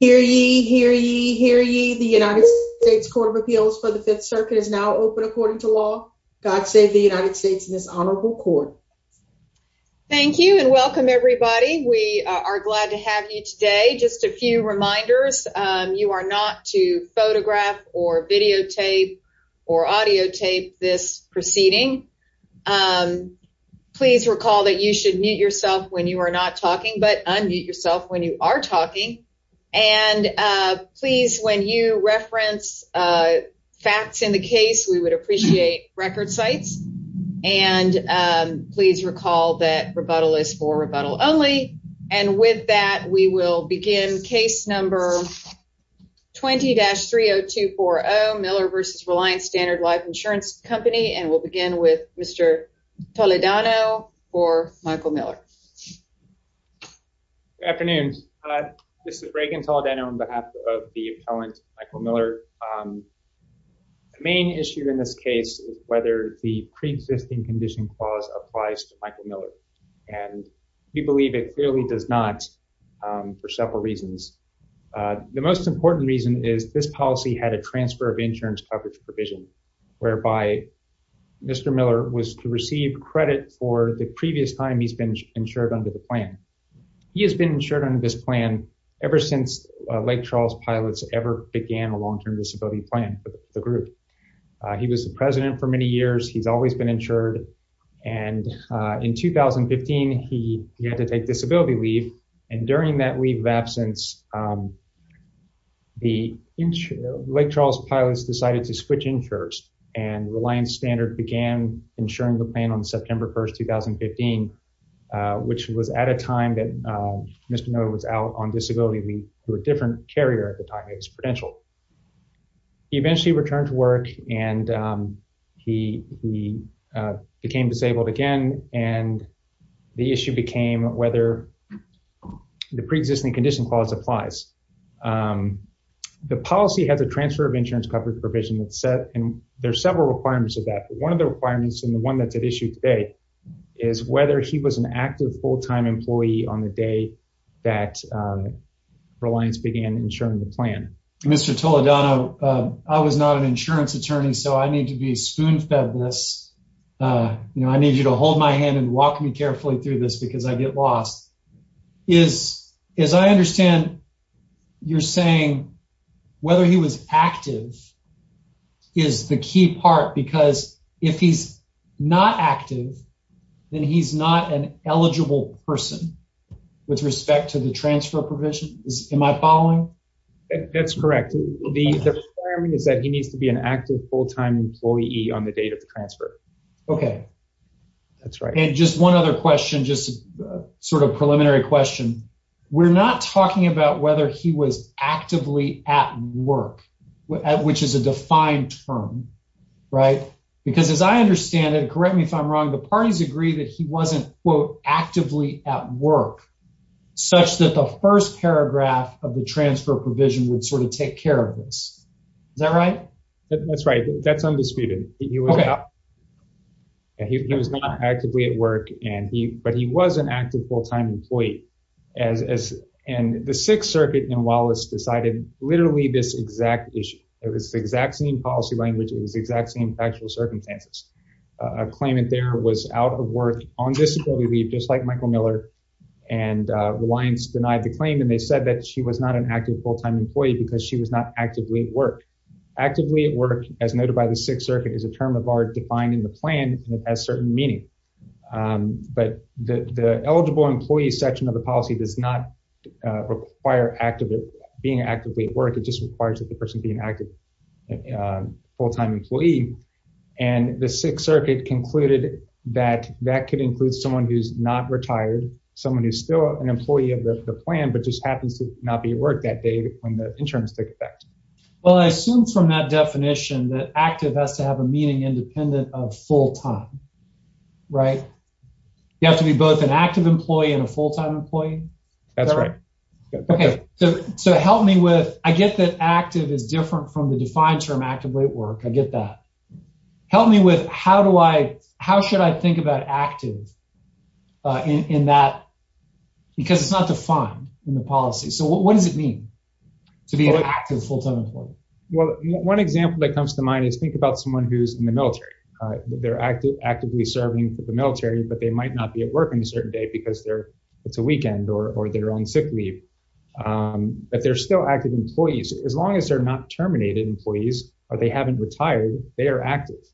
Hear ye, hear ye, hear ye. The United States Court of Appeals for the Fifth Circuit is now open according to law. God save the United States in this honorable court. Thank you and welcome everybody. We are glad to have you today. Just a few reminders, you are not to photograph or videotape or audio tape this proceeding. Please recall that you should mute yourself when you are not talking but unmute yourself when you are talking and please when you reference facts in the case we would appreciate record sites and please recall that rebuttal is for rebuttal only and with that we will begin case number 20-30240 Miller v. Reliance Stnrd Life Insurance Company and we'll begin with Mr. Toledano for Michael Miller. Good afternoon, this is Reagan Toledano on behalf of the appellant Michael Miller. The main issue in this case is whether the pre-existing condition clause applies to Michael Miller and we believe it clearly does not for several reasons. The most important reason is this policy had a transfer of insurance coverage provision whereby Mr. Miller was to receive credit for the previous time he's been insured under the plan. He has been insured under this plan ever since Lake Charles pilots ever began a long-term disability plan for the group. He was the president for many years, he's always been insured and in 2015 he had to take disability leave and during that leave of absence the Lake Charles pilots decided to switch insurers and Reliance Stnrd began insuring the plan on September 1st, 2015 which was at a time that Mr. Miller was out on disability leave to a different carrier at the time, it was Prudential. He eventually returned to work and he became disabled again and the issue became whether the pre-existing condition clause applies. The policy has a transfer of insurance coverage provision that's set and there's several requirements of that but one of the requirements and the one that's at issue today is whether he was an active full-time employee on the day that Reliance began insuring the plan. Mr. Toledano, I was not an insurance attorney so I need to be spoon-fed this, you know I need you to hold my hand and walk me carefully through this because I get lost. As I understand you're saying whether he was active is the key part because if he's not active then he's not an eligible person with respect to the transfer provision, am I following? That's correct, the requirement is that he needs to be an active full-time employee on the date of the transfer. Okay that's right and just one other question, just sort of preliminary question, we're not talking about whether he was actively at work which is a defined term right because as I understand it, correct me if I'm wrong, the parties agree that he wasn't quote actively at work such that the first paragraph of the transfer provision would take care of this, is that right? That's right, that's undisputed. He was not actively at work but he was an active full-time employee and the sixth circuit in Wallace decided literally this exact issue, it was the exact same policy language, it was the exact same factual circumstances. A claimant there was out of work on disability leave just like Michael Miller and Reliance denied the claim and they said that she was not an active full-time employee because she was not actively at work. Actively at work as noted by the sixth circuit is a term of art defined in the plan and it has certain meaning but the eligible employee section of the policy does not require being actively at work, it just requires that the person be an active full-time employee and the sixth circuit concluded that that could include someone who's not retired, someone who's still an employee of the plan but just happens to not be at work that day when the insurance took effect. Well I assume from that definition that active has to have a meaning independent of full-time, right? You have to be both an active employee and a full-time employee? That's right. Okay so help me with, I get that active is different from the defined term actively at work, I get that. Help me with how do I, how should I think about active in that because it's not defined in the policy. So what does it mean to be an active full-time employee? Well one example that comes to mind is think about someone who's in the military. They're actively serving for the military but they might not be at work on a certain day because it's a weekend or they're on sick leave. But they're still active employees as long as they're not terminated employees or they haven't retired, they are active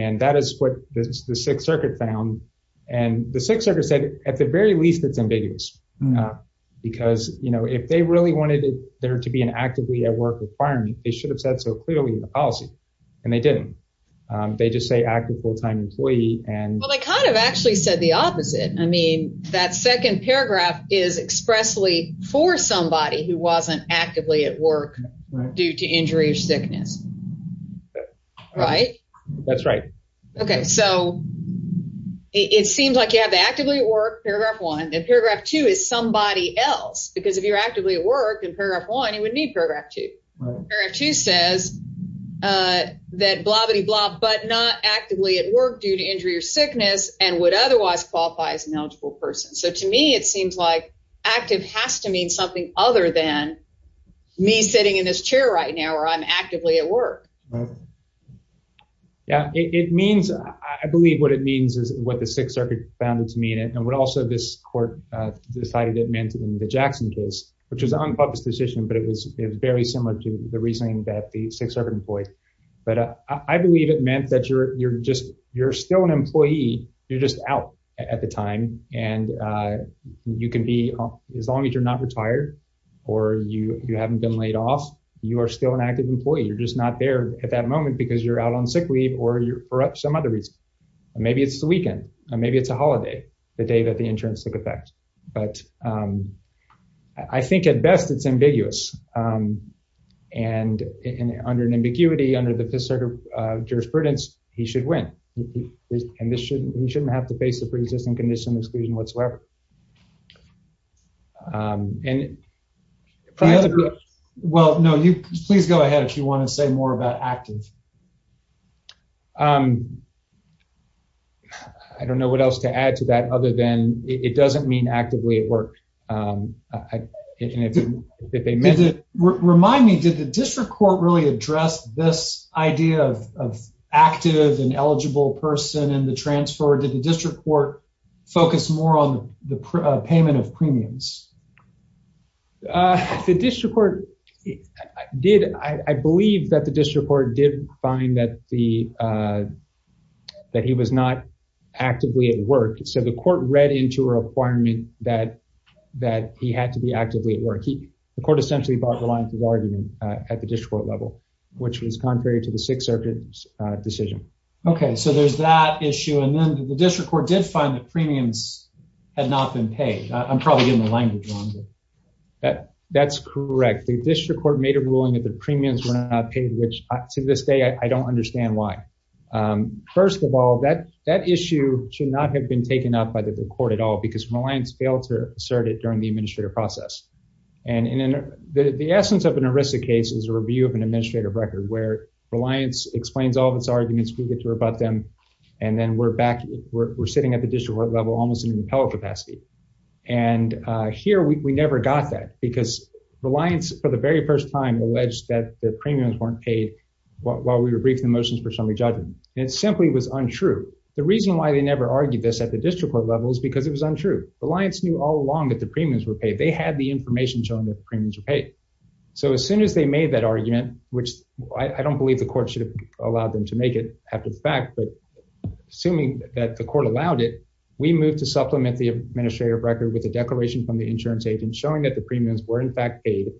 and that is what the sixth circuit found and the sixth circuit said at the very least it's ambiguous because you know if they really wanted there to be an actively at work requirement, they should have said so clearly in the policy and they didn't. They just say active full-time employee and well they kind of actually said the opposite. I mean that second paragraph is expressly for somebody who wasn't actively at work due to injury or sickness, right? That's right. Okay so it seems like you have to actively work, paragraph one, and paragraph two is somebody else because if you're actively at work in paragraph one you would need paragraph two. Paragraph two says that blah bitty blah but not actively at work due to injury or sickness and would otherwise qualify as an eligible person. So to me it seems like active has to mean something other than me sitting in this chair right now where I'm actively at work. Yeah it means, I believe what it means is what the sixth circuit found to mean and what also this court decided it meant in the Jackson case which was an unpublished decision but it was very similar to the reasoning that the sixth circuit employed. But I believe it meant that you're still an employee, you're just out at the time and you can be as long as you're not retired or you haven't been laid off, you are still an active employee. You're just not there at that moment because you're out on sick leave or you're for some other reason. Maybe it's the weekend, maybe it's a holiday, the day that the insurance took effect. But I think at best it's under the fifth circuit jurisprudence he should win and this shouldn't he shouldn't have to face the pre-existing condition exclusion whatsoever. And well no you please go ahead if you want to say more about active. I don't know what else to add to that other than it doesn't mean actively at work. Remind me did the district court really address this idea of active and eligible person in the transfer or did the district court focus more on the payment of premiums? The district court did. I believe that the district court did find that he was not that that he had to be actively at work. He the court essentially bought the line of argument at the district court level which was contrary to the sixth circuit decision. Okay so there's that issue and then the district court did find the premiums had not been paid. I'm probably getting the language wrong. That that's correct. The district court made a ruling that the premiums were not paid which to this day I don't understand why. First of all that that issue should not have been taken up by the court at all because Reliance failed to assert it during the administrative process. And in the essence of an ARISA case is a review of an administrative record where Reliance explains all of its arguments we get to rebut them and then we're back we're sitting at the district court level almost in impeller capacity. And here we never got that because Reliance for the very first time alleged that the premiums weren't paid while we were briefed the motions for summary judgment. It simply was untrue. The reason why they never argued this at the district court level is because it was untrue. Reliance knew all along that the premiums were paid. They had the information showing that the premiums were paid. So as soon as they made that argument which I don't believe the court should have allowed them to make it after the fact but assuming that the court allowed it we moved to supplement the administrative record with the declaration from the insurance agent showing that the premiums were in fact paid.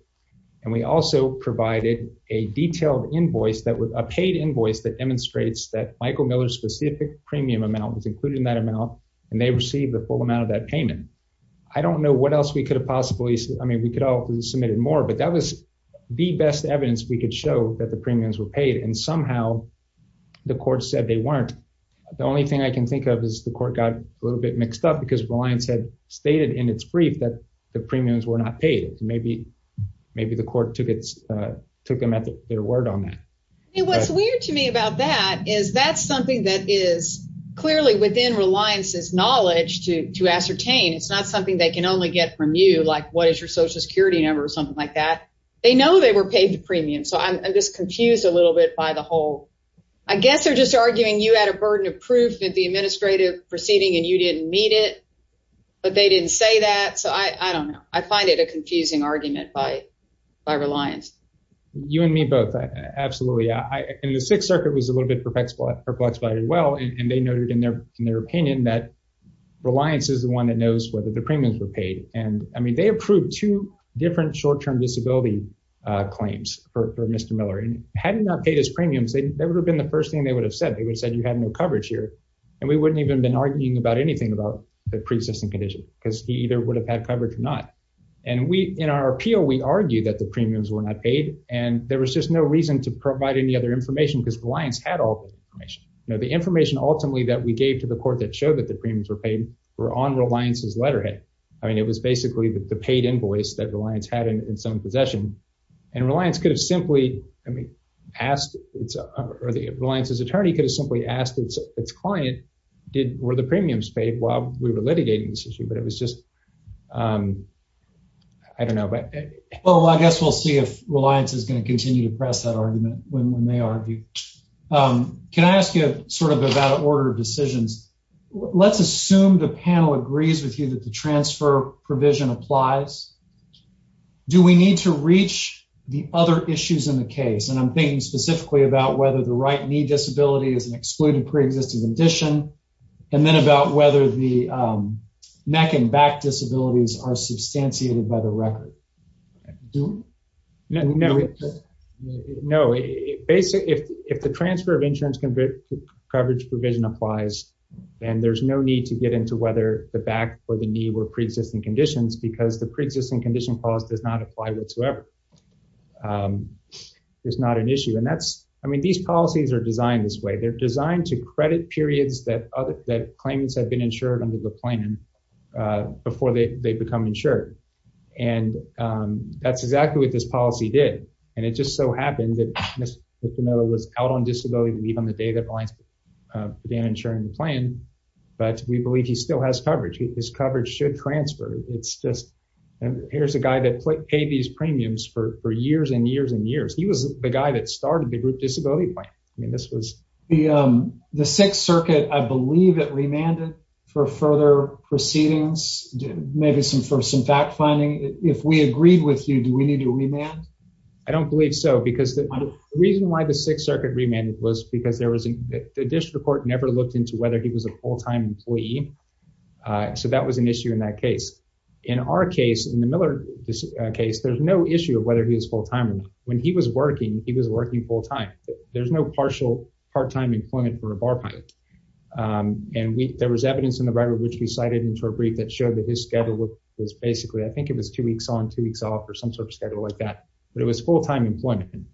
And we also provided a detailed invoice that was a paid invoice that demonstrates that Michael Miller's specific premium amount was and they received the full amount of that payment. I don't know what else we could have possibly I mean we could have submitted more but that was the best evidence we could show that the premiums were paid and somehow the court said they weren't. The only thing I can think of is the court got a little bit mixed up because Reliance had stated in its brief that the premiums were not paid. Maybe the court took them at their word on that. What's weird to me about that is that's something that is clearly within Reliance's knowledge to ascertain. It's not something they can only get from you like what is your social security number or something like that. They know they were paid a premium so I'm just confused a little bit by the whole. I guess they're just arguing you had a burden of proof at the administrative proceeding and you didn't meet it but they didn't say that so I don't know. I find it a confusing argument by Reliance. You and me both. Absolutely. The Sixth Circuit was a little bit perplexed by it as well and they noted in their opinion that Reliance is the one that knows whether the premiums were paid and I mean they approved two different short-term disability claims for Mr. Miller and had he not paid his premiums they would have been the first thing they would have said. They would have said you had no coverage here and we wouldn't even been arguing about anything about the pre-existing condition because he either would have had coverage or not and we in our appeal we argue that the there was just no reason to provide any other information because Reliance had all the information. Now the information ultimately that we gave to the court that showed that the premiums were paid were on Reliance's letterhead. I mean it was basically the paid invoice that Reliance had in some possession and Reliance could have simply I mean asked it's or the Reliance's attorney could have simply asked its client did were the premiums paid while we were litigating this issue but it was just I don't know but well I guess we'll see if Reliance is going to continue to press that argument when they argue. Can I ask you sort of about order of decisions let's assume the panel agrees with you that the transfer provision applies do we need to reach the other issues in the case and I'm thinking specifically about whether the right knee disability is an excluded pre-existing condition and then about whether the neck and back disabilities are substantiated by the record. No, if the transfer of insurance coverage provision applies then there's no need to get into whether the back or the knee were pre-existing conditions because the pre-existing condition does not apply whatsoever. It's not an issue and that's I mean these policies are designed this way they're designed to credit periods that other that claimants have been insured under the plan before they become insured and that's exactly what this policy did and it just so happened that Mr. Pinilla was out on disability leave on the day that Reliance began insuring the plan but we believe he still has coverage his coverage should transfer it's just and here's a guy that paid these premiums for for years and years and years he was the guy that started the group disability plan I mean this was the um the sixth circuit I believe it remanded for further proceedings maybe some for some fact finding if we agreed with you do we need to remand? I don't believe so because the reason why the sixth circuit remanded was because there was the district court never looked into whether he was a full-time employee so that was an issue in that case in our case in the Miller case there's no issue of whether he was full-time or not when he was working he was working full-time there's no partial part-time employment for a bar pilot and we there was evidence in the record which we cited into a brief that showed that his schedule was basically I think it was two weeks on two weeks off or some sort of schedule like that but it was full-time employment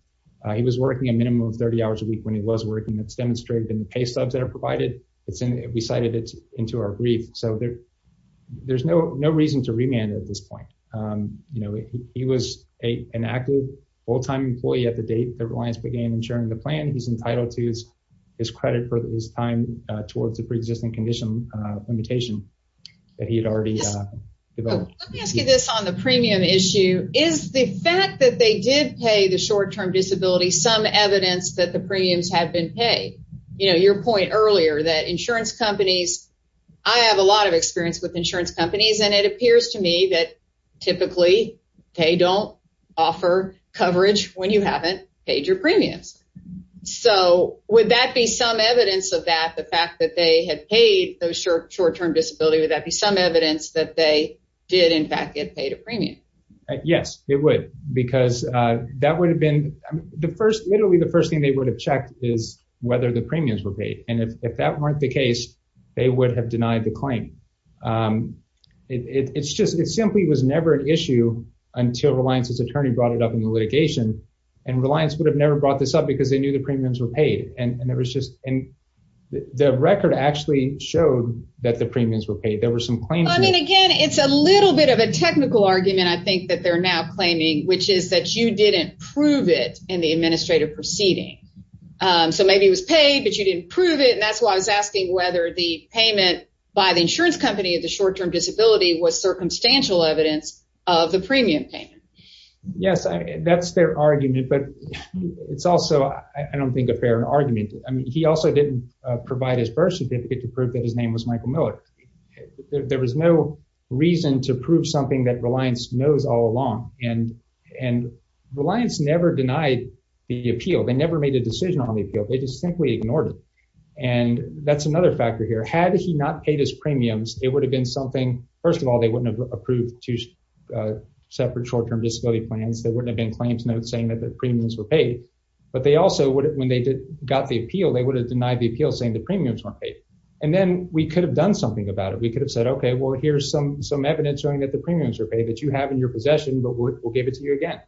he was working a minimum of 30 hours when he was working it's demonstrated in the pay subs that are provided it's in we cited it into our brief so there there's no no reason to remand at this point you know he was a an active full-time employee at the date that reliance began ensuring the plan he's entitled to his his credit for his time towards the pre-existing condition limitation that he had already let me ask you this on the premium issue is the fact that they did pay the short-term disability some evidence that the premiums have been paid you know your point earlier that insurance companies I have a lot of experience with insurance companies and it appears to me that typically they don't offer coverage when you haven't paid your premiums so would that be some evidence of that the fact that they had paid those short short-term disability would that be some evidence that they did in fact get paid a premium yes it would because that would have been the first literally the first thing they would have checked is whether the premiums were paid and if that weren't the case they would have denied the claim it's just it simply was never an issue until reliance's attorney brought it up in the litigation and reliance would have never brought this up because they knew the premiums were paid and it was just and the record actually showed that the premiums were paid there were some claims I mean again it's a little bit of a technical argument I think that they're now claiming which is that you didn't prove it in the administrative proceeding so maybe it was paid but you didn't prove it and that's why I was asking whether the payment by the insurance company of the short-term disability was circumstantial evidence of the premium payment yes that's their argument but it's also I don't think a fair argument I mean he also didn't provide his birth certificate to prove that his name was Michael Miller there was no reason to prove something that reliance knows all along and and reliance never denied the appeal they never made a decision on the appeal they just simply ignored it and that's another factor here had he not paid his premiums it would have been something first of all they wouldn't have approved two separate short-term disability plans there wouldn't have been claims notes saying that the premiums were paid but they also would when they did got the appeal they would have denied the appeal saying the premiums weren't paid and then we could have done something about it we could have said okay well here's some some evidence showing that the premiums are paid that you have in your possession but we'll give it to you again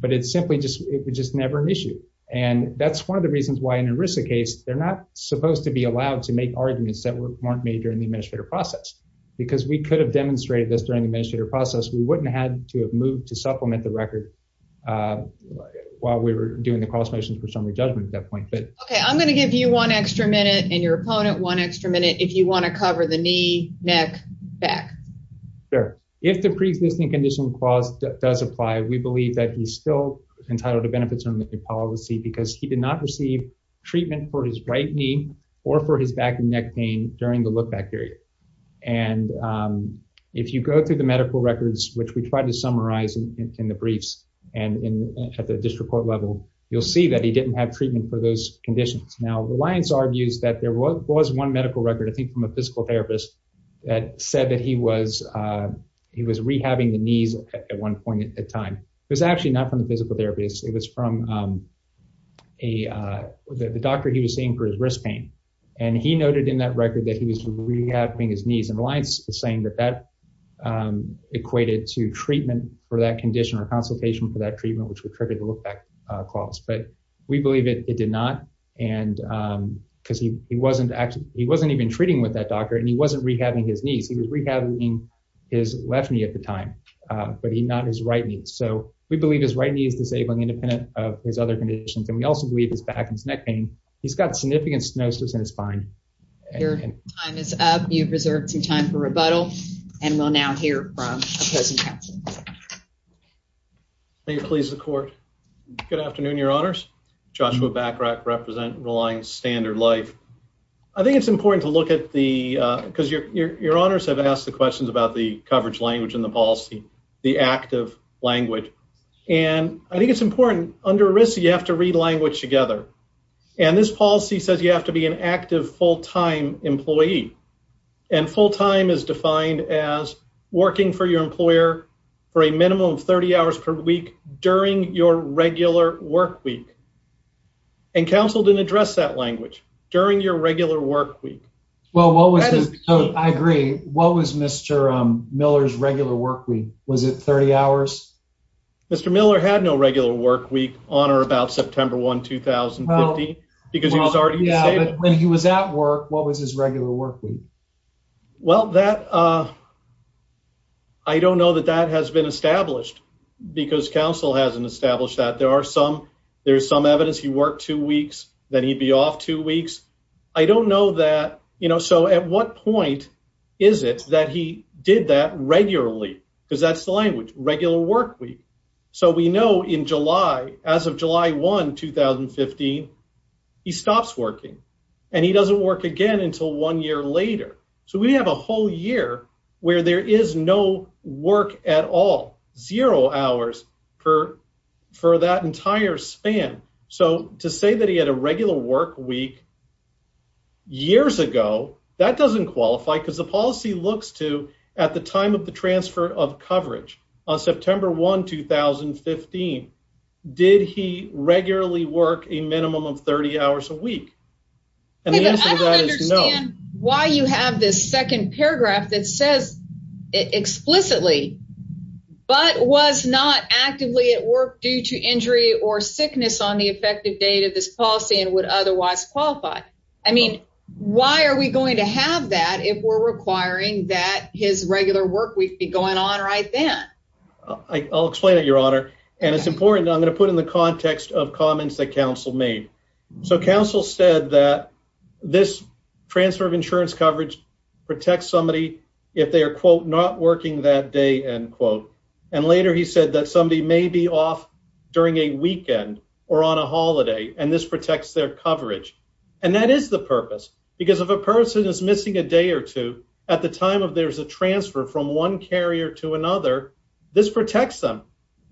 but it's simply just it was just never an issue and that's one of the reasons why in a risk case they're not supposed to be allowed to make arguments that weren't made during the administrative process because we could have demonstrated this during the administrative process we wouldn't have to have moved to uh while we were doing the cross motions for summary judgment at that point but okay i'm going to give you one extra minute and your opponent one extra minute if you want to cover the knee neck back sure if the pre-existing condition clause does apply we believe that he's still entitled to benefits from the policy because he did not receive treatment for his right knee or for his back and neck pain during the look-back period and um if you go through the medical records which we tried to summarize in the briefs and in at the district court level you'll see that he didn't have treatment for those conditions now reliance argues that there was one medical record i think from a physical therapist that said that he was uh he was rehabbing the knees at one point at a time it was actually not from the physical therapist it was from um a uh the doctor he was saying for his wrist pain and he noted in that record that he was rehabbing his knees and alliance is saying that that um equated to treatment for that condition or consultation for that treatment which would trigger the look-back clause but we believe it did not and um because he he wasn't actually he wasn't even treating with that doctor and he wasn't rehabbing his knees he was rehabbing his left knee at the time uh but he not his right knee so we believe his right knee is disabling independent of his other conditions and we also believe his back and his neck pain he's got significant stenosis and it's fine your time is up you've reserved some time for rebuttal and we'll now hear from opposing counsel can you please the court good afternoon your honors joshua back representing relying standard life i think it's important to look at the uh because your your honors have asked the questions about the coverage language and the policy the active language and i think it's important under you have to read language together and this policy says you have to be an active full-time employee and full-time is defined as working for your employer for a minimum of 30 hours per week during your regular work week and counsel didn't address that language during your regular work week well what was i agree what was mr um miller's regular work week was it 30 hours mr miller had no regular work week on or about september 1 2015 because he was already yeah when he was at work what was his regular work week well that uh i don't know that that has been established because counsel hasn't established that there are some there's some evidence he worked two weeks then he'd be off two weeks i don't know that you know so at what point is it that he did that regularly because that's the language regular work week so we know in july as of july 1 2015 he stops working and he doesn't work again until one year later so we have a whole year where there is no work at all zero hours per for that entire span so to say that he had a regular work week years ago that doesn't qualify because the policy looks to at the time of the transfer of coverage on september 1 2015 did he regularly work a minimum of 30 hours a week and the answer to that is no why you have this second paragraph that says explicitly but was not actively at work due to injury or sickness on the effective date of this policy and would otherwise qualify i mean why are we going to have that if we're requiring that his regular work week be going on right then i'll explain it your honor and it's important i'm going to put in the context of comments that counsel made so counsel said that this transfer of insurance coverage protects somebody if they are quote not working that day end quote and later he said that somebody may be off during a weekend or on a holiday and this protects their coverage and that is the purpose because if a person is missing a day or two at the time of there's a transfer from one carrier to another this protects them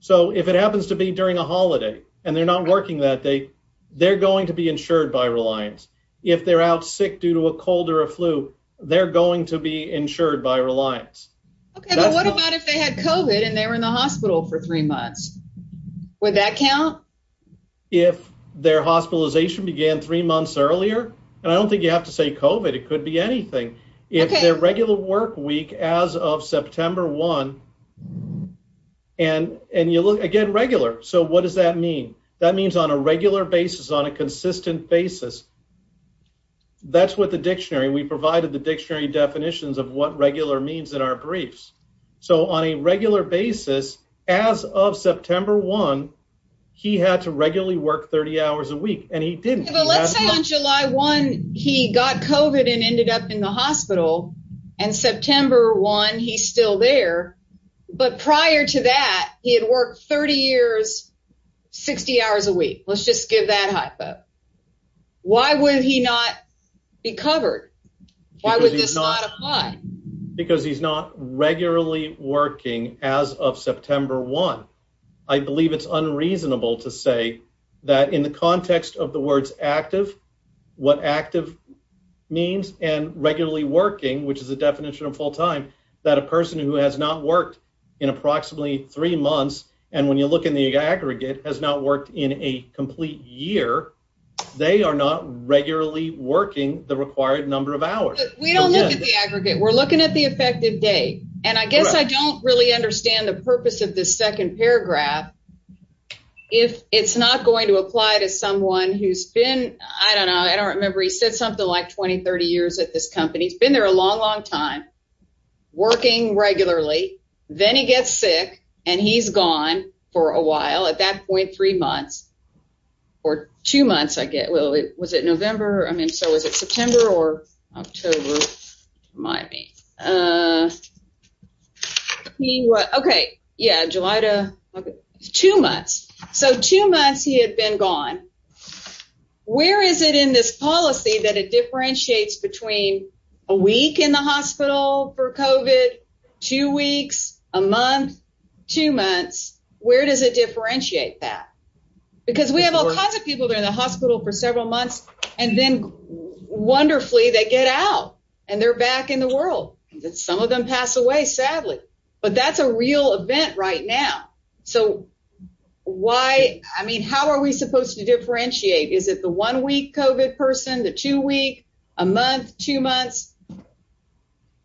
so if it happens to be during a holiday and they're not working that day they're going to be insured by reliance if they're out sick due to a cold or a flu they're going to be insured by reliance okay but what about if they had covet and they were in the hospital for three months would that count if their hospitalization began three months earlier and i don't think you have to say covet it could be anything if their regular work week as of september one and and you look again regular so what does that mean that means on a regular basis on a consistent basis that's what the dictionary we provided the dictionary definitions of what regular means in our briefs so on a regular basis as of september one he had to regularly work 30 hours a week and he didn't but let's say on july one he got covet and ended up in the hospital and september one he's still there but prior to that he had worked 30 years 60 hours a week let's just give that hypo why would he not be covered why would this not apply because he's not regularly working as of september one i believe it's unreasonable to say that in the context of the words active what active means and regularly working which is the definition of full time that a person who has not worked in approximately three months and when you look in the aggregate has not worked in a complete year they are not regularly working the required number of hours we don't look at the aggregate we're looking at the effective day and i guess i don't really understand the purpose of this second paragraph if it's not going to apply to someone who's been i don't know i don't remember he said something like 20 30 years at this company he's been there a long long time working regularly then he gets sick and he's gone for a while at that point three months or two months i get well it was it november i mean so is it september or october remind me uh he what okay yeah july to two months so two months he had been gone where is it in this policy that it differentiates between a week in the hospital for covet two weeks a month two months where does it differentiate that because we have all kinds of people they're in the hospital for several months and then wonderfully they get out and they're back in the world and some of them pass away sadly but that's a real event right now so why i mean how are we supposed to differentiate is it the one week covet person the two week a month two months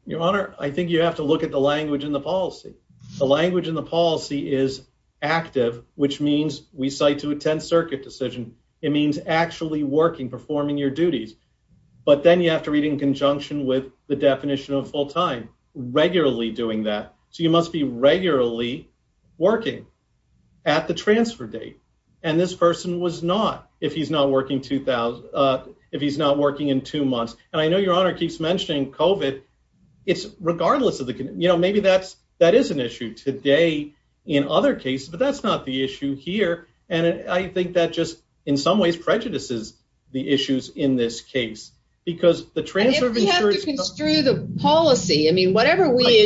your honor i think you have to look at the language in the policy the language in the policy is active which means we cite to attend circuit decision it means actually working performing your duties but then you have to read in conjunction with the definition of full-time regularly doing that so you must be regularly working at the transfer date and this was not if he's not working two thousand uh if he's not working in two months and i know your honor keeps mentioning covet it's regardless of the you know maybe that's that is an issue today in other cases but that's not the issue here and i think that just in some ways prejudices the issues in this case because the transfer of insurance through the policy i mean whatever we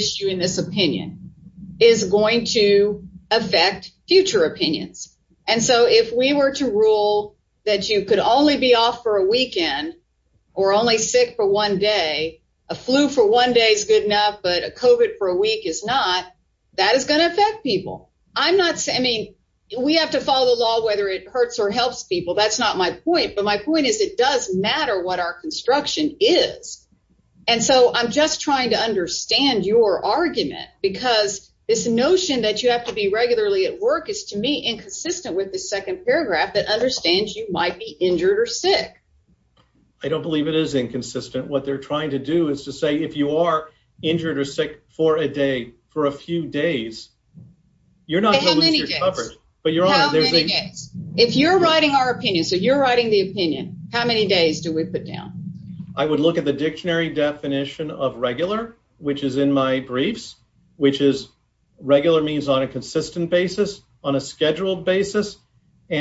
were to rule that you could only be off for a weekend or only sick for one day a flu for one day is good enough but a covet for a week is not that is going to affect people i'm not saying i mean we have to follow the law whether it hurts or helps people that's not my point but my point is it does matter what our construction is and so i'm just trying to understand your argument because this notion that you have to be regularly at work is to me inconsistent with the second paragraph that understands you might be injured or sick i don't believe it is inconsistent what they're trying to do is to say if you are injured or sick for a day for a few days you're not covered but your honor if you're writing our opinion so you're writing the opinion how many days do we put down i would look at the dictionary definition of regular which is in my briefs which is regular means on a consistent basis on a scheduled basis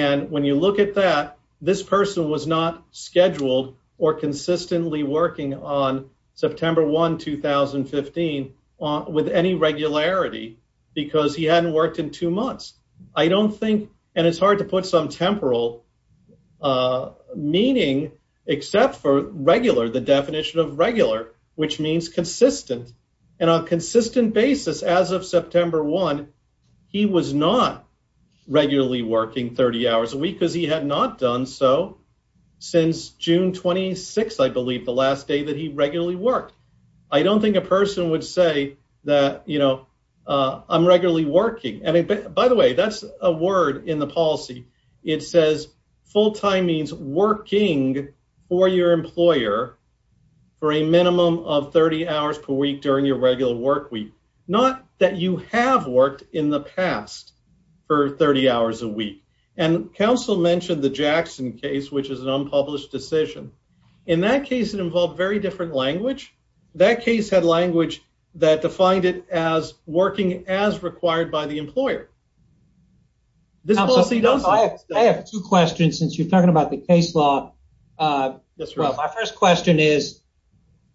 and when you look at that this person was not scheduled or consistently working on september 1 2015 with any regularity because he hadn't in two months i don't think and it's hard to put some temporal uh meaning except for regular the definition of regular which means consistent and on consistent basis as of september 1 he was not regularly working 30 hours a week because he had not done so since june 26 i believe the last day that he regularly worked i don't think a person would say that you know uh i'm not regularly working i mean by the way that's a word in the policy it says full time means working for your employer for a minimum of 30 hours per week during your regular work week not that you have worked in the past for 30 hours a week and council mentioned the jackson case which is an unpublished decision in that case it involved very different language that case had language that defined it as working as required by the employer this policy does i have two questions since you're talking about the case law uh yes well my first question is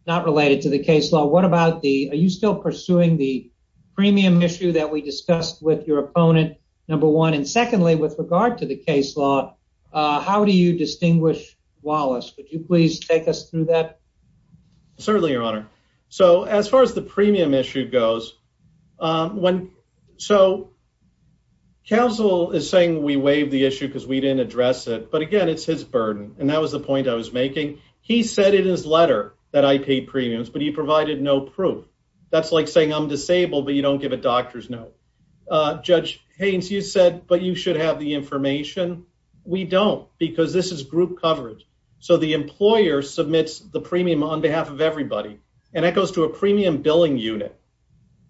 not related to the case law what about the are you still pursuing the premium issue that we discussed with your opponent number one and secondly with regard to the case law uh how do you distinguish wallace would you please take us through that certainly your honor so as far as premium issue goes um when so council is saying we waived the issue because we didn't address it but again it's his burden and that was the point i was making he said in his letter that i paid premiums but he provided no proof that's like saying i'm disabled but you don't give a doctor's note uh judge haynes you said but you should have the information we don't because this is group coverage so the employer submits the premium on behalf of everybody and that goes to a premium billing unit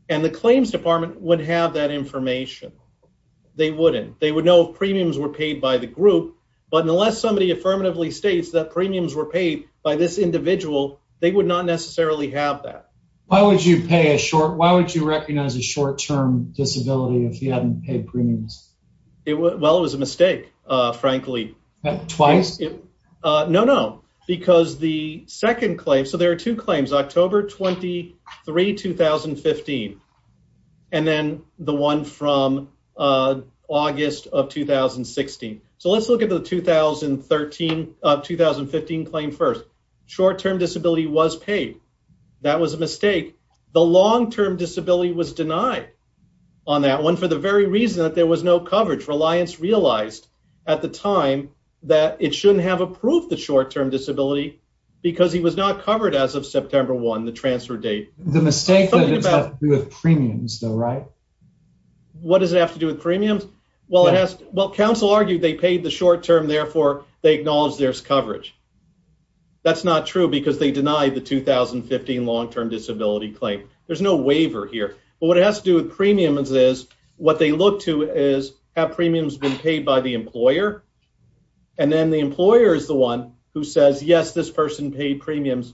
and the claims department would have that information they wouldn't they would know if premiums were paid by the group but unless somebody affirmatively states that premiums were paid by this individual they would not necessarily have that why would you pay a short why would you recognize a short-term disability if you hadn't paid premiums it was well it was a mistake uh twice uh no no because the second claim so there are two claims october 23 2015 and then the one from uh august of 2016 so let's look at the 2013 uh 2015 claim first short-term disability was paid that was a mistake the long-term disability was denied on that one for the very reason that there was no coverage reliance realized at the time that it shouldn't have approved the short-term disability because he was not covered as of september 1 the transfer date the mistake that has to do with premiums though right what does it have to do with premiums well it has well council argued they paid the short term therefore they acknowledge there's coverage that's not true because they denied the 2015 long-term disability claim there's no waiver here but what it has to do with premiums is what they look to is have premiums been paid by the employer and then the employer is the one who says yes this person paid premiums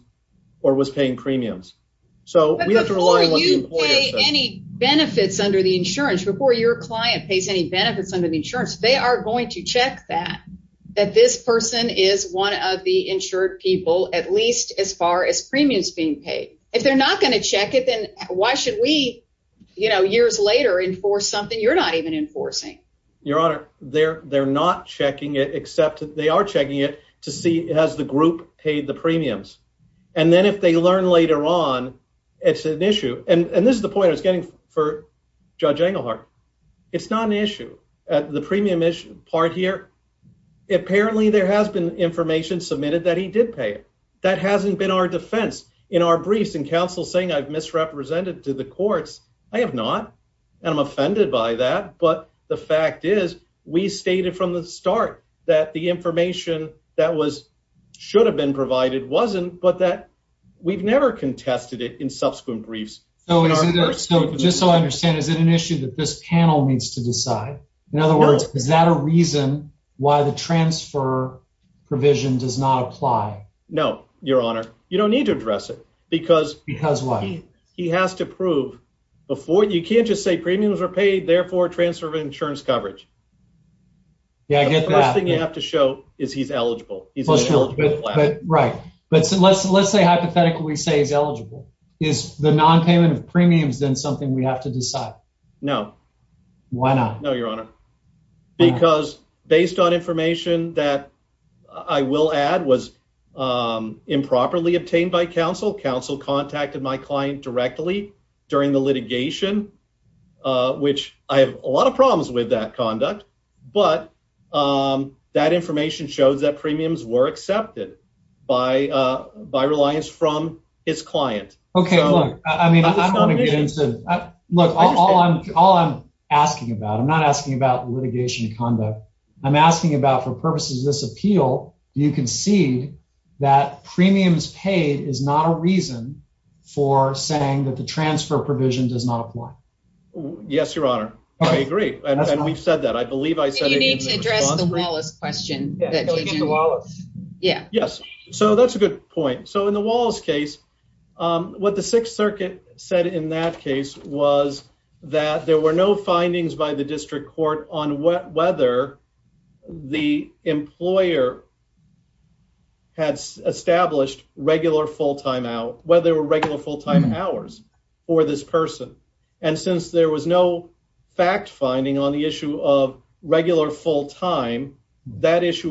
or was paying premiums so we have to rely on any benefits under the insurance before your client pays any benefits under the insurance they are going to check that that this person is one of the insured people at as far as premiums being paid if they're not going to check it then why should we you know years later enforce something you're not even enforcing your honor they're they're not checking it except they are checking it to see has the group paid the premiums and then if they learn later on it's an issue and and this is the point i was getting for judge engelhardt it's not an issue at the premium issue part here apparently there has been information submitted that he did pay it that hasn't been our defense in our briefs and counsel saying i've misrepresented to the courts i have not and i'm offended by that but the fact is we stated from the start that the information that was should have been provided wasn't but that we've never contested it in subsequent briefs so just so i understand is it an issue that this panel needs to decide in other words is that a reason why the transfer provision does not apply no your honor you don't need to address it because because why he has to prove before you can't just say premiums are paid therefore transfer of insurance coverage yeah i get the first thing you have to show is he's eligible right but so let's let's say hypothetically say he's eligible is the non-payment of premiums something we have to decide no why not no your honor because based on information that i will add was um improperly obtained by counsel counsel contacted my client directly during the litigation uh which i have a lot of problems with that conduct but um that information shows that premiums were accepted by uh by reliance from his client okay look i mean look all i'm all i'm asking about i'm not asking about litigation conduct i'm asking about for purposes of this appeal you can see that premiums paid is not a reason for saying that the transfer provision does not apply yes your honor i agree and we've said that i believe i said you need to wallace yeah yes so that's a good point so in the wallace case um what the sixth circuit said in that case was that there were no findings by the district court on whether the employer had established regular full-time out whether they were regular full-time hours for this person and issue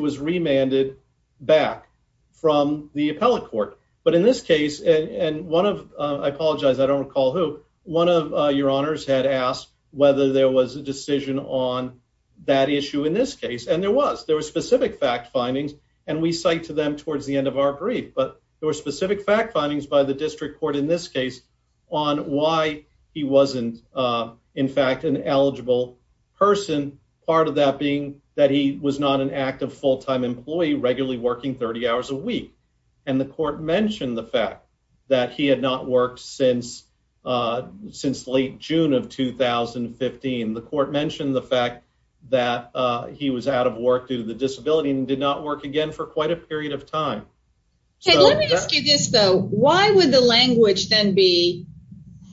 was remanded back from the appellate court but in this case and one of i apologize i don't recall who one of your honors had asked whether there was a decision on that issue in this case and there was there were specific fact findings and we cite to them towards the end of our brief but there were specific fact findings by the district court in this case on why he wasn't in fact an eligible person part of that being that he was not an active full-time employee regularly working 30 hours a week and the court mentioned the fact that he had not worked since uh since late june of 2015 the court mentioned the fact that uh he was out of work due to the disability and did not work again for quite a period of time okay let me ask you this though why would the language then be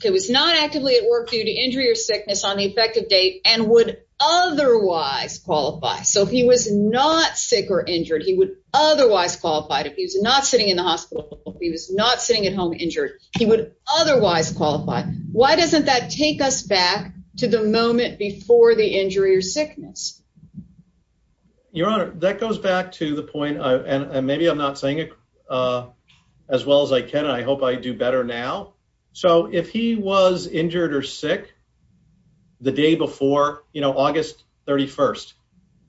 it was not actively at work due to injury or sickness on the effective date and would otherwise qualify so if he was not sick or injured he would otherwise qualify if he was not sitting in the hospital if he was not sitting at home injured he would otherwise qualify why doesn't that take us back to the moment before the injury or sickness your honor that goes back to the point i and maybe i'm not saying it uh as well as i can and i hope i do better now so if he was injured or sick the day before you know august 31st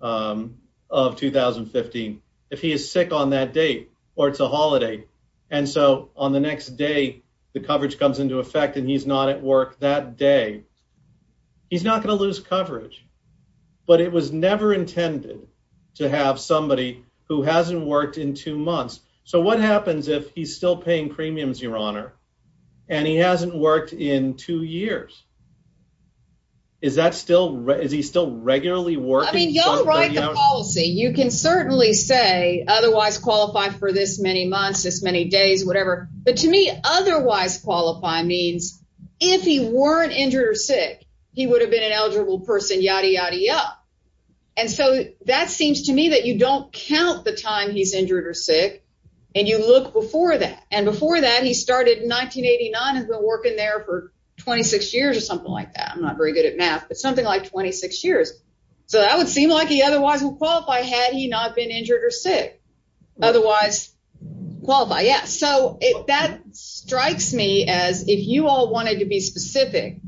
um of 2015 if he is sick on that date or it's a holiday and so on the next day the coverage comes into effect and he's not at work that day he's not going to lose coverage but it was never intended to have somebody who hasn't worked in two months so what happens if he's still paying premiums your honor and he hasn't worked in two years is that still is he still regularly working i mean y'all write the policy you can certainly say otherwise qualify for this many months this many days whatever but to me otherwise qualify means if he weren't injured or sick he and so that seems to me that you don't count the time he's injured or sick and you look before that and before that he started in 1989 has been working there for 26 years or something like that i'm not very good at math but something like 26 years so that would seem like he otherwise would qualify had he not been injured or sick otherwise qualify yeah so that strikes me as if you all wanted to be specific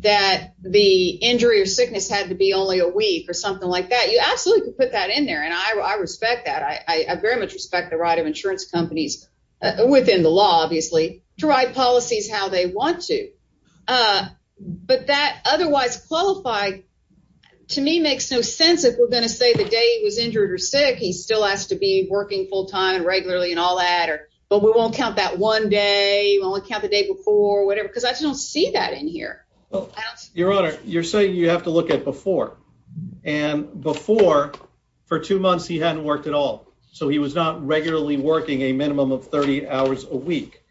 that the injury or sickness had to be only a week or something like that you absolutely could put that in there and i i respect that i i very much respect the right of insurance companies within the law obviously to write policies how they want to uh but that otherwise qualify to me makes no sense if we're going to say the day he was injured or sick he still has to be working full-time and regularly and all that or but we won't count that one day you only count the day before or whatever because i don't see that in here well your honor you're saying you have to look at before and before for two months he hadn't worked at all so he was not regularly working a minimum of 30 hours a week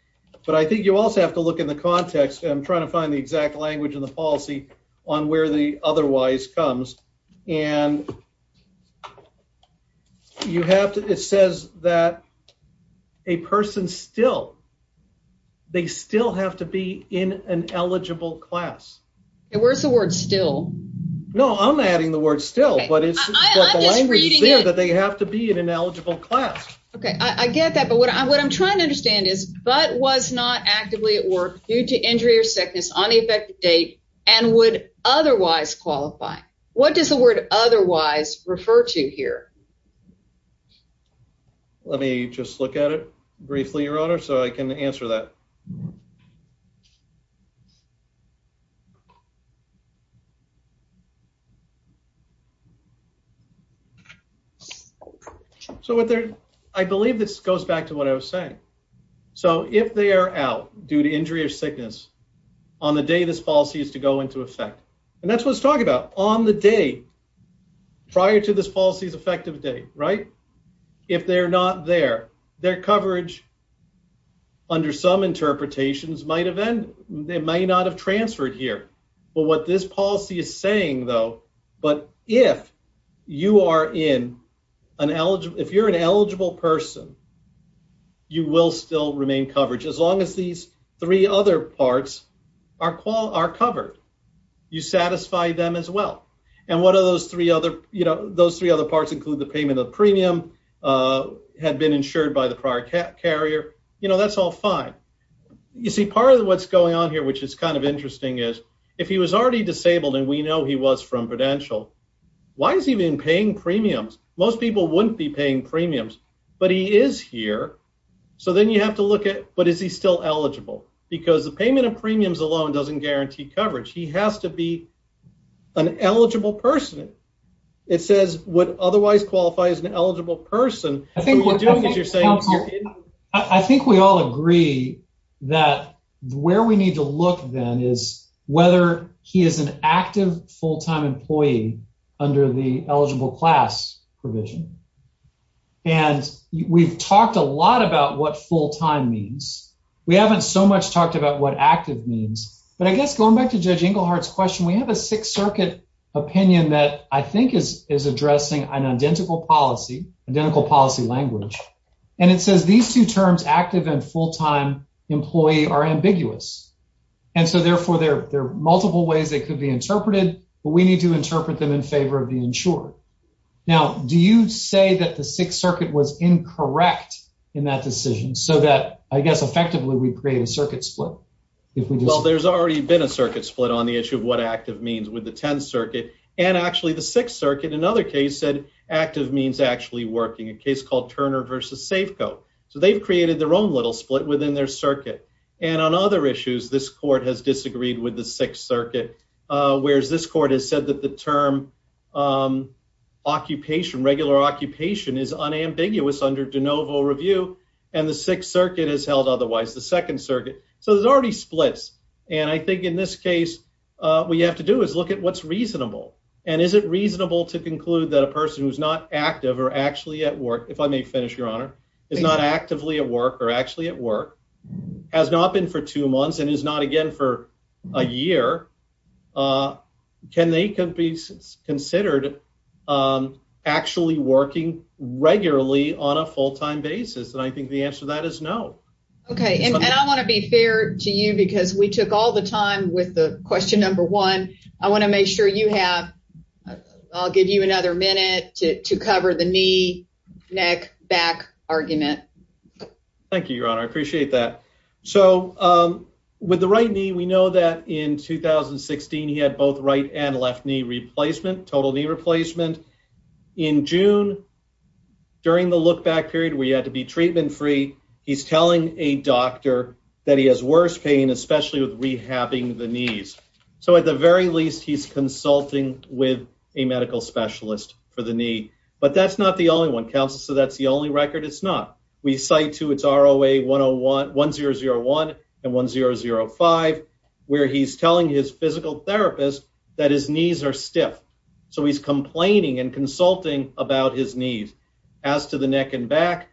but i think you also have to look in the context i'm trying to find the exact language in the policy on where the otherwise comes and you have to it says that a person still they still have to be in an eligible class and where's the word still no i'm adding the word still but it's the language is there that they have to be in an eligible class okay i i get that but what i what i'm trying to understand is but was not actively at work due to injury or sickness on the effective date and would otherwise qualify what does the word otherwise refer to here let me just look at it briefly your honor so i can answer that so what they're i believe this goes back to what i was saying so if they are out due to injury or sickness on the day this policy is to go into effect and that's what it's talking about on the day prior to this policy's effective date right if they're not there their coverage under some interpretations might have ended they may not have transferred here but what this policy is saying though but if you are in an eligible if you're an eligible person you will still remain covered as long as these three other parts are are covered you satisfy them as well and what are those three other you know those three other parts include the payment of premium uh had been insured by the prior carrier you know that's all fine you see part of what's going on here which is kind of interesting is if he was already disabled and we know he was from prudential why is he even paying premiums most people wouldn't be paying premiums but he is here so then you have to look at what is he still eligible because the payment of premiums alone doesn't guarantee coverage he has to be an eligible person it says would otherwise qualify as an eligible person i think you're doing as you're saying i think we all agree that where we need to look then is whether he is an active full-time employee under the eligible class provision and we've talked a lot about what full-time means we haven't so much talked about what active means but i guess going back to judge inglehart's question we have a sixth circuit opinion that i think is is addressing an identical policy identical policy language and it says these two terms active and full-time employee are but we need to interpret them in favor of the insured now do you say that the sixth circuit was incorrect in that decision so that i guess effectively we create a circuit split if we do well there's already been a circuit split on the issue of what active means with the 10th circuit and actually the sixth circuit another case said active means actually working a case called turner versus safeco so they've created their own little split within their circuit and on other issues this court has disagreed with the sixth circuit uh whereas this court has said that the term um occupation regular occupation is unambiguous under de novo review and the sixth circuit is held otherwise the second circuit so there's already splits and i think in this case uh what you have to do is look at what's reasonable and is it reasonable to conclude that a person who's not active or actually at work if i may finish your honor is not actively at work or actually at work has not been for two months and is not again for a year uh can they could be considered um actually working regularly on a full-time basis and i think the answer to that is no okay and i want to be fair to you because we took all the time with the question number one i want to make sure you have i'll give you another minute to to cover the knee neck back argument thank you your honor i appreciate that so um with the right knee we know that in 2016 he had both right and left knee replacement total knee replacement in june during the look back period where you had to be treatment free he's telling a doctor that he has worse pain especially with rehabbing the knees so at the very least he's consulting with a medical specialist for the knee but that's not the only one council so that's the only record it's not we cite to its roa 101 1001 and 1005 where he's telling his physical therapist that his knees are stiff so he's complaining and consulting about his knees as to the neck and back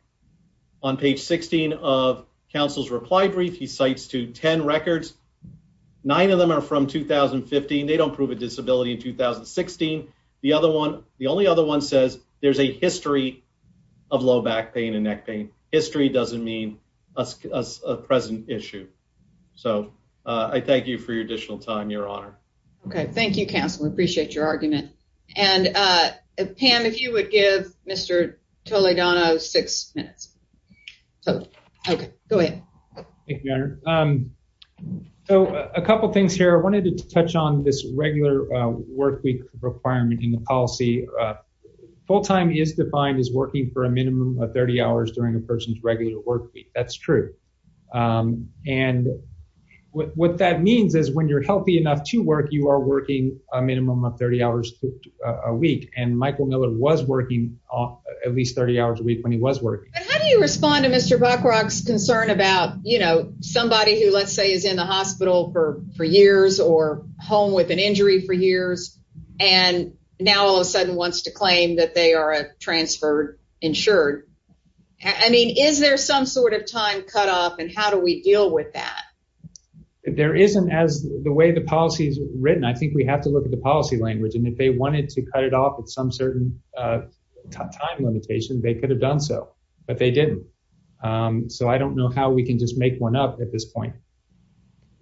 on page 16 of council's reply brief he cites to 10 records nine of them are from 2015 they don't prove a disability in 2016 the other one the only other one says there's a history of low back pain and neck pain history doesn't mean a present issue so uh i thank you for your additional time your honor okay thank you council i appreciate your argument and uh pam if you would give mr toledano six minutes so okay go ahead thank you your honor um so a couple things here i wanted to touch on this regular work week requirement in the policy uh full time is defined as working for a minimum of 30 hours during a person's regular work week that's true um and what that means is when you're healthy enough to work you are working a minimum of 30 hours a week and michael miller was working at least 30 hours a week when he was working how do you respond to mr buckrock's concern about you know somebody who let's say is in the hospital for for years or home with an injury for years and now all of a sudden wants to claim that they are a transferred insured i mean is there some sort of time cut off and how do we deal with that there isn't as the way the policy is written i think we have to look at the policy language and if they wanted to cut it off at some certain uh time limitation they could have done so but they didn't um so i don't know how we can just make one up at this point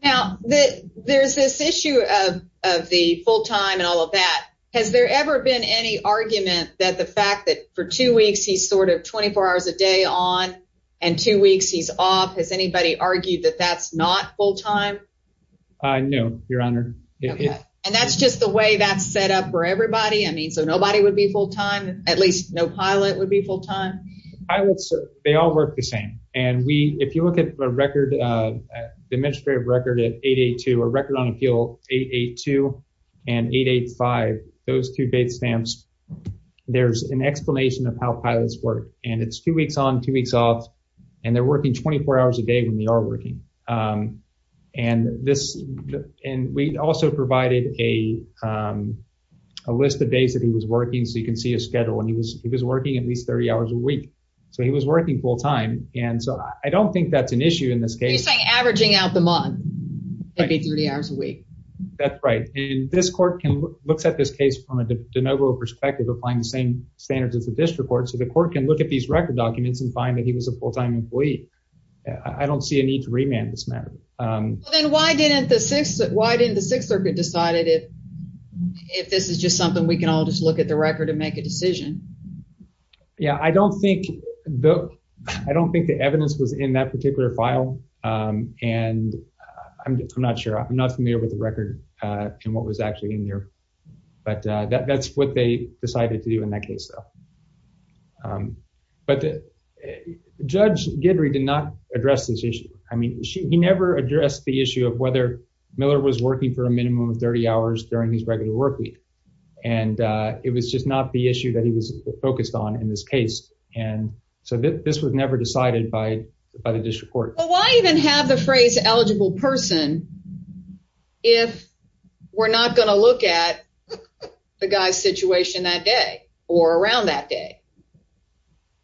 now that there's this issue of of the full time and all of that has there ever been any argument that the fact that for two weeks he's sort of 24 hours a day on and two weeks he's off has anybody argued that that's not full time i know your honor okay and that's just way that's set up for everybody i mean so nobody would be full time at least no pilot would be full time pilots they all work the same and we if you look at a record uh the administrative record at 882 a record on appeal 882 and 885 those two date stamps there's an explanation of how pilots work and it's two weeks on two weeks off and they're working 24 hours a day when they are um and this and we also provided a um a list of days that he was working so you can see his schedule and he was he was working at least 30 hours a week so he was working full time and so i don't think that's an issue in this case you're saying averaging out the month maybe 30 hours a week that's right and this court can looks at this case from a de novo perspective applying the same standards as the district court so the court can look at these record documents and find that he was a full-time employee i don't see a need to remand this matter um then why didn't the six why didn't the sixth circuit decided if if this is just something we can all just look at the record and make a decision yeah i don't think the i don't think the evidence was in that particular file um and i'm not sure i'm not familiar with the record uh and what was actually but uh that's what they decided to do in that case though um but the judge didry did not address this issue i mean she he never addressed the issue of whether miller was working for a minimum of 30 hours during his regular work week and uh it was just not the issue that he was focused on in this case and so this was never decided by by the district court well why even have the phrase eligible person if we're not going to look at the guy's situation that day or around that day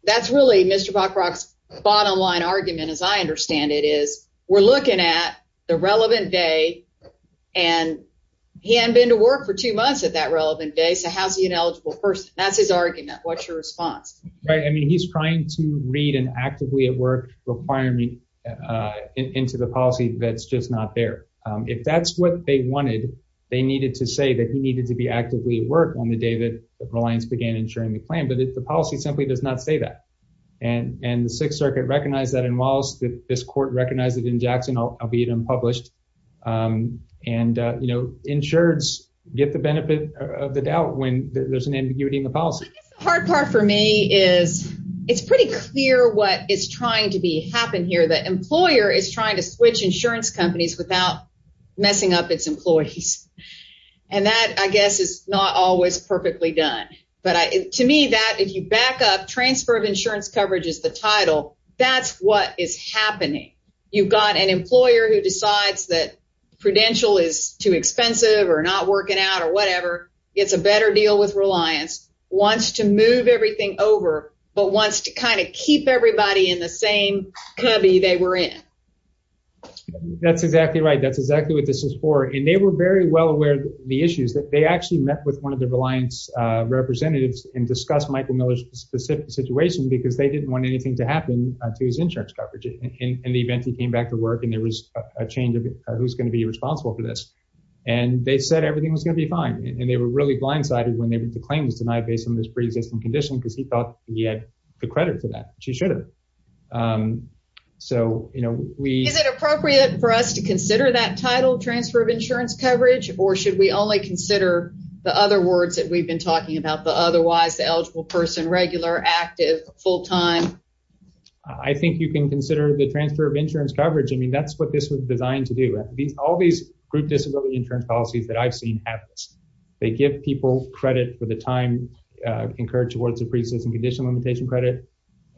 that's really mr bockrock's bottom line argument as i understand it is we're looking at the relevant day and he hadn't been to work for two months at that relevant day so how's he an eligible person that's his argument what's your response right i mean he's trying to read an actively at work requirement uh into the policy that's just not there um if that's what they wanted they needed to say that he needed to be actively at work on the day that the reliance began ensuring the plan but if the policy simply does not say that and and the sixth circuit recognized that in wallace that this court recognized it in jackson albeit unpublished um and uh you know insureds get the benefit of the doubt when there's an ambiguity in the policy the hard part for me is it's pretty clear what is trying to be happen here the employer is trying to switch insurance companies without messing up its employees and that i guess is not always perfectly done but i to me that if you back up transfer of insurance coverage is the title that's what is happening you've got an employer who decides that credential is too expensive or not working out or whatever it's a better deal wants to move everything over but wants to kind of keep everybody in the same cubby they were in that's exactly right that's exactly what this is for and they were very well aware the issues that they actually met with one of the reliance uh representatives and discussed michael miller's specific situation because they didn't want anything to happen to his insurance coverage in the event he came back to work and there was a change of who's going to be responsible for this and they said everything was going to be fine and they were really blindsided when the claim was denied based on this pre-existing condition because he thought he had the credit for that which he should have um so you know we is it appropriate for us to consider that title transfer of insurance coverage or should we only consider the other words that we've been talking about the otherwise the eligible person regular active full-time i think you can consider the transfer of insurance coverage i mean that's what this was designed to do these all these group disability insurance policies that i've seen have this they give people credit for the time uh incurred towards the pre-existing condition limitation credit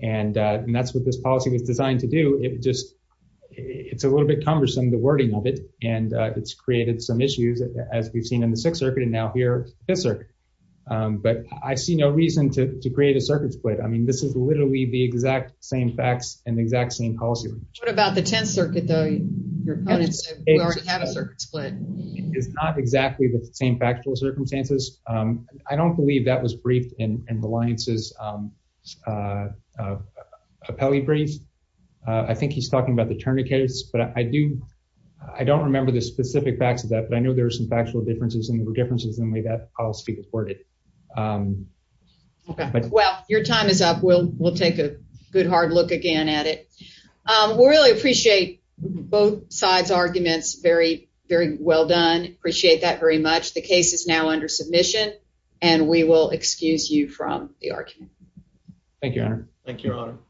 and uh and that's what this policy was designed to do it just it's a little bit cumbersome the wording of it and it's created some issues as we've seen in the sixth circuit and now here fifth circuit um but i see no reason to to create a circuit split i mean this is literally the exact same facts and the exact same policy what about the 10th circuit though your opponents already have a circuit split it's not exactly the same factual circumstances um i don't believe that was briefed in in reliance's um uh uh appellee brief uh i think he's talking about the tourniquets but i do i don't remember the specific facts of that but i know there are some factual differences and there were differences in the way that policy was worded um okay well your time is up we'll we'll take a good hard look again at it um we really appreciate both sides arguments very very well done appreciate that very much the case is now under submission and we will excuse you from the argument thank you thank you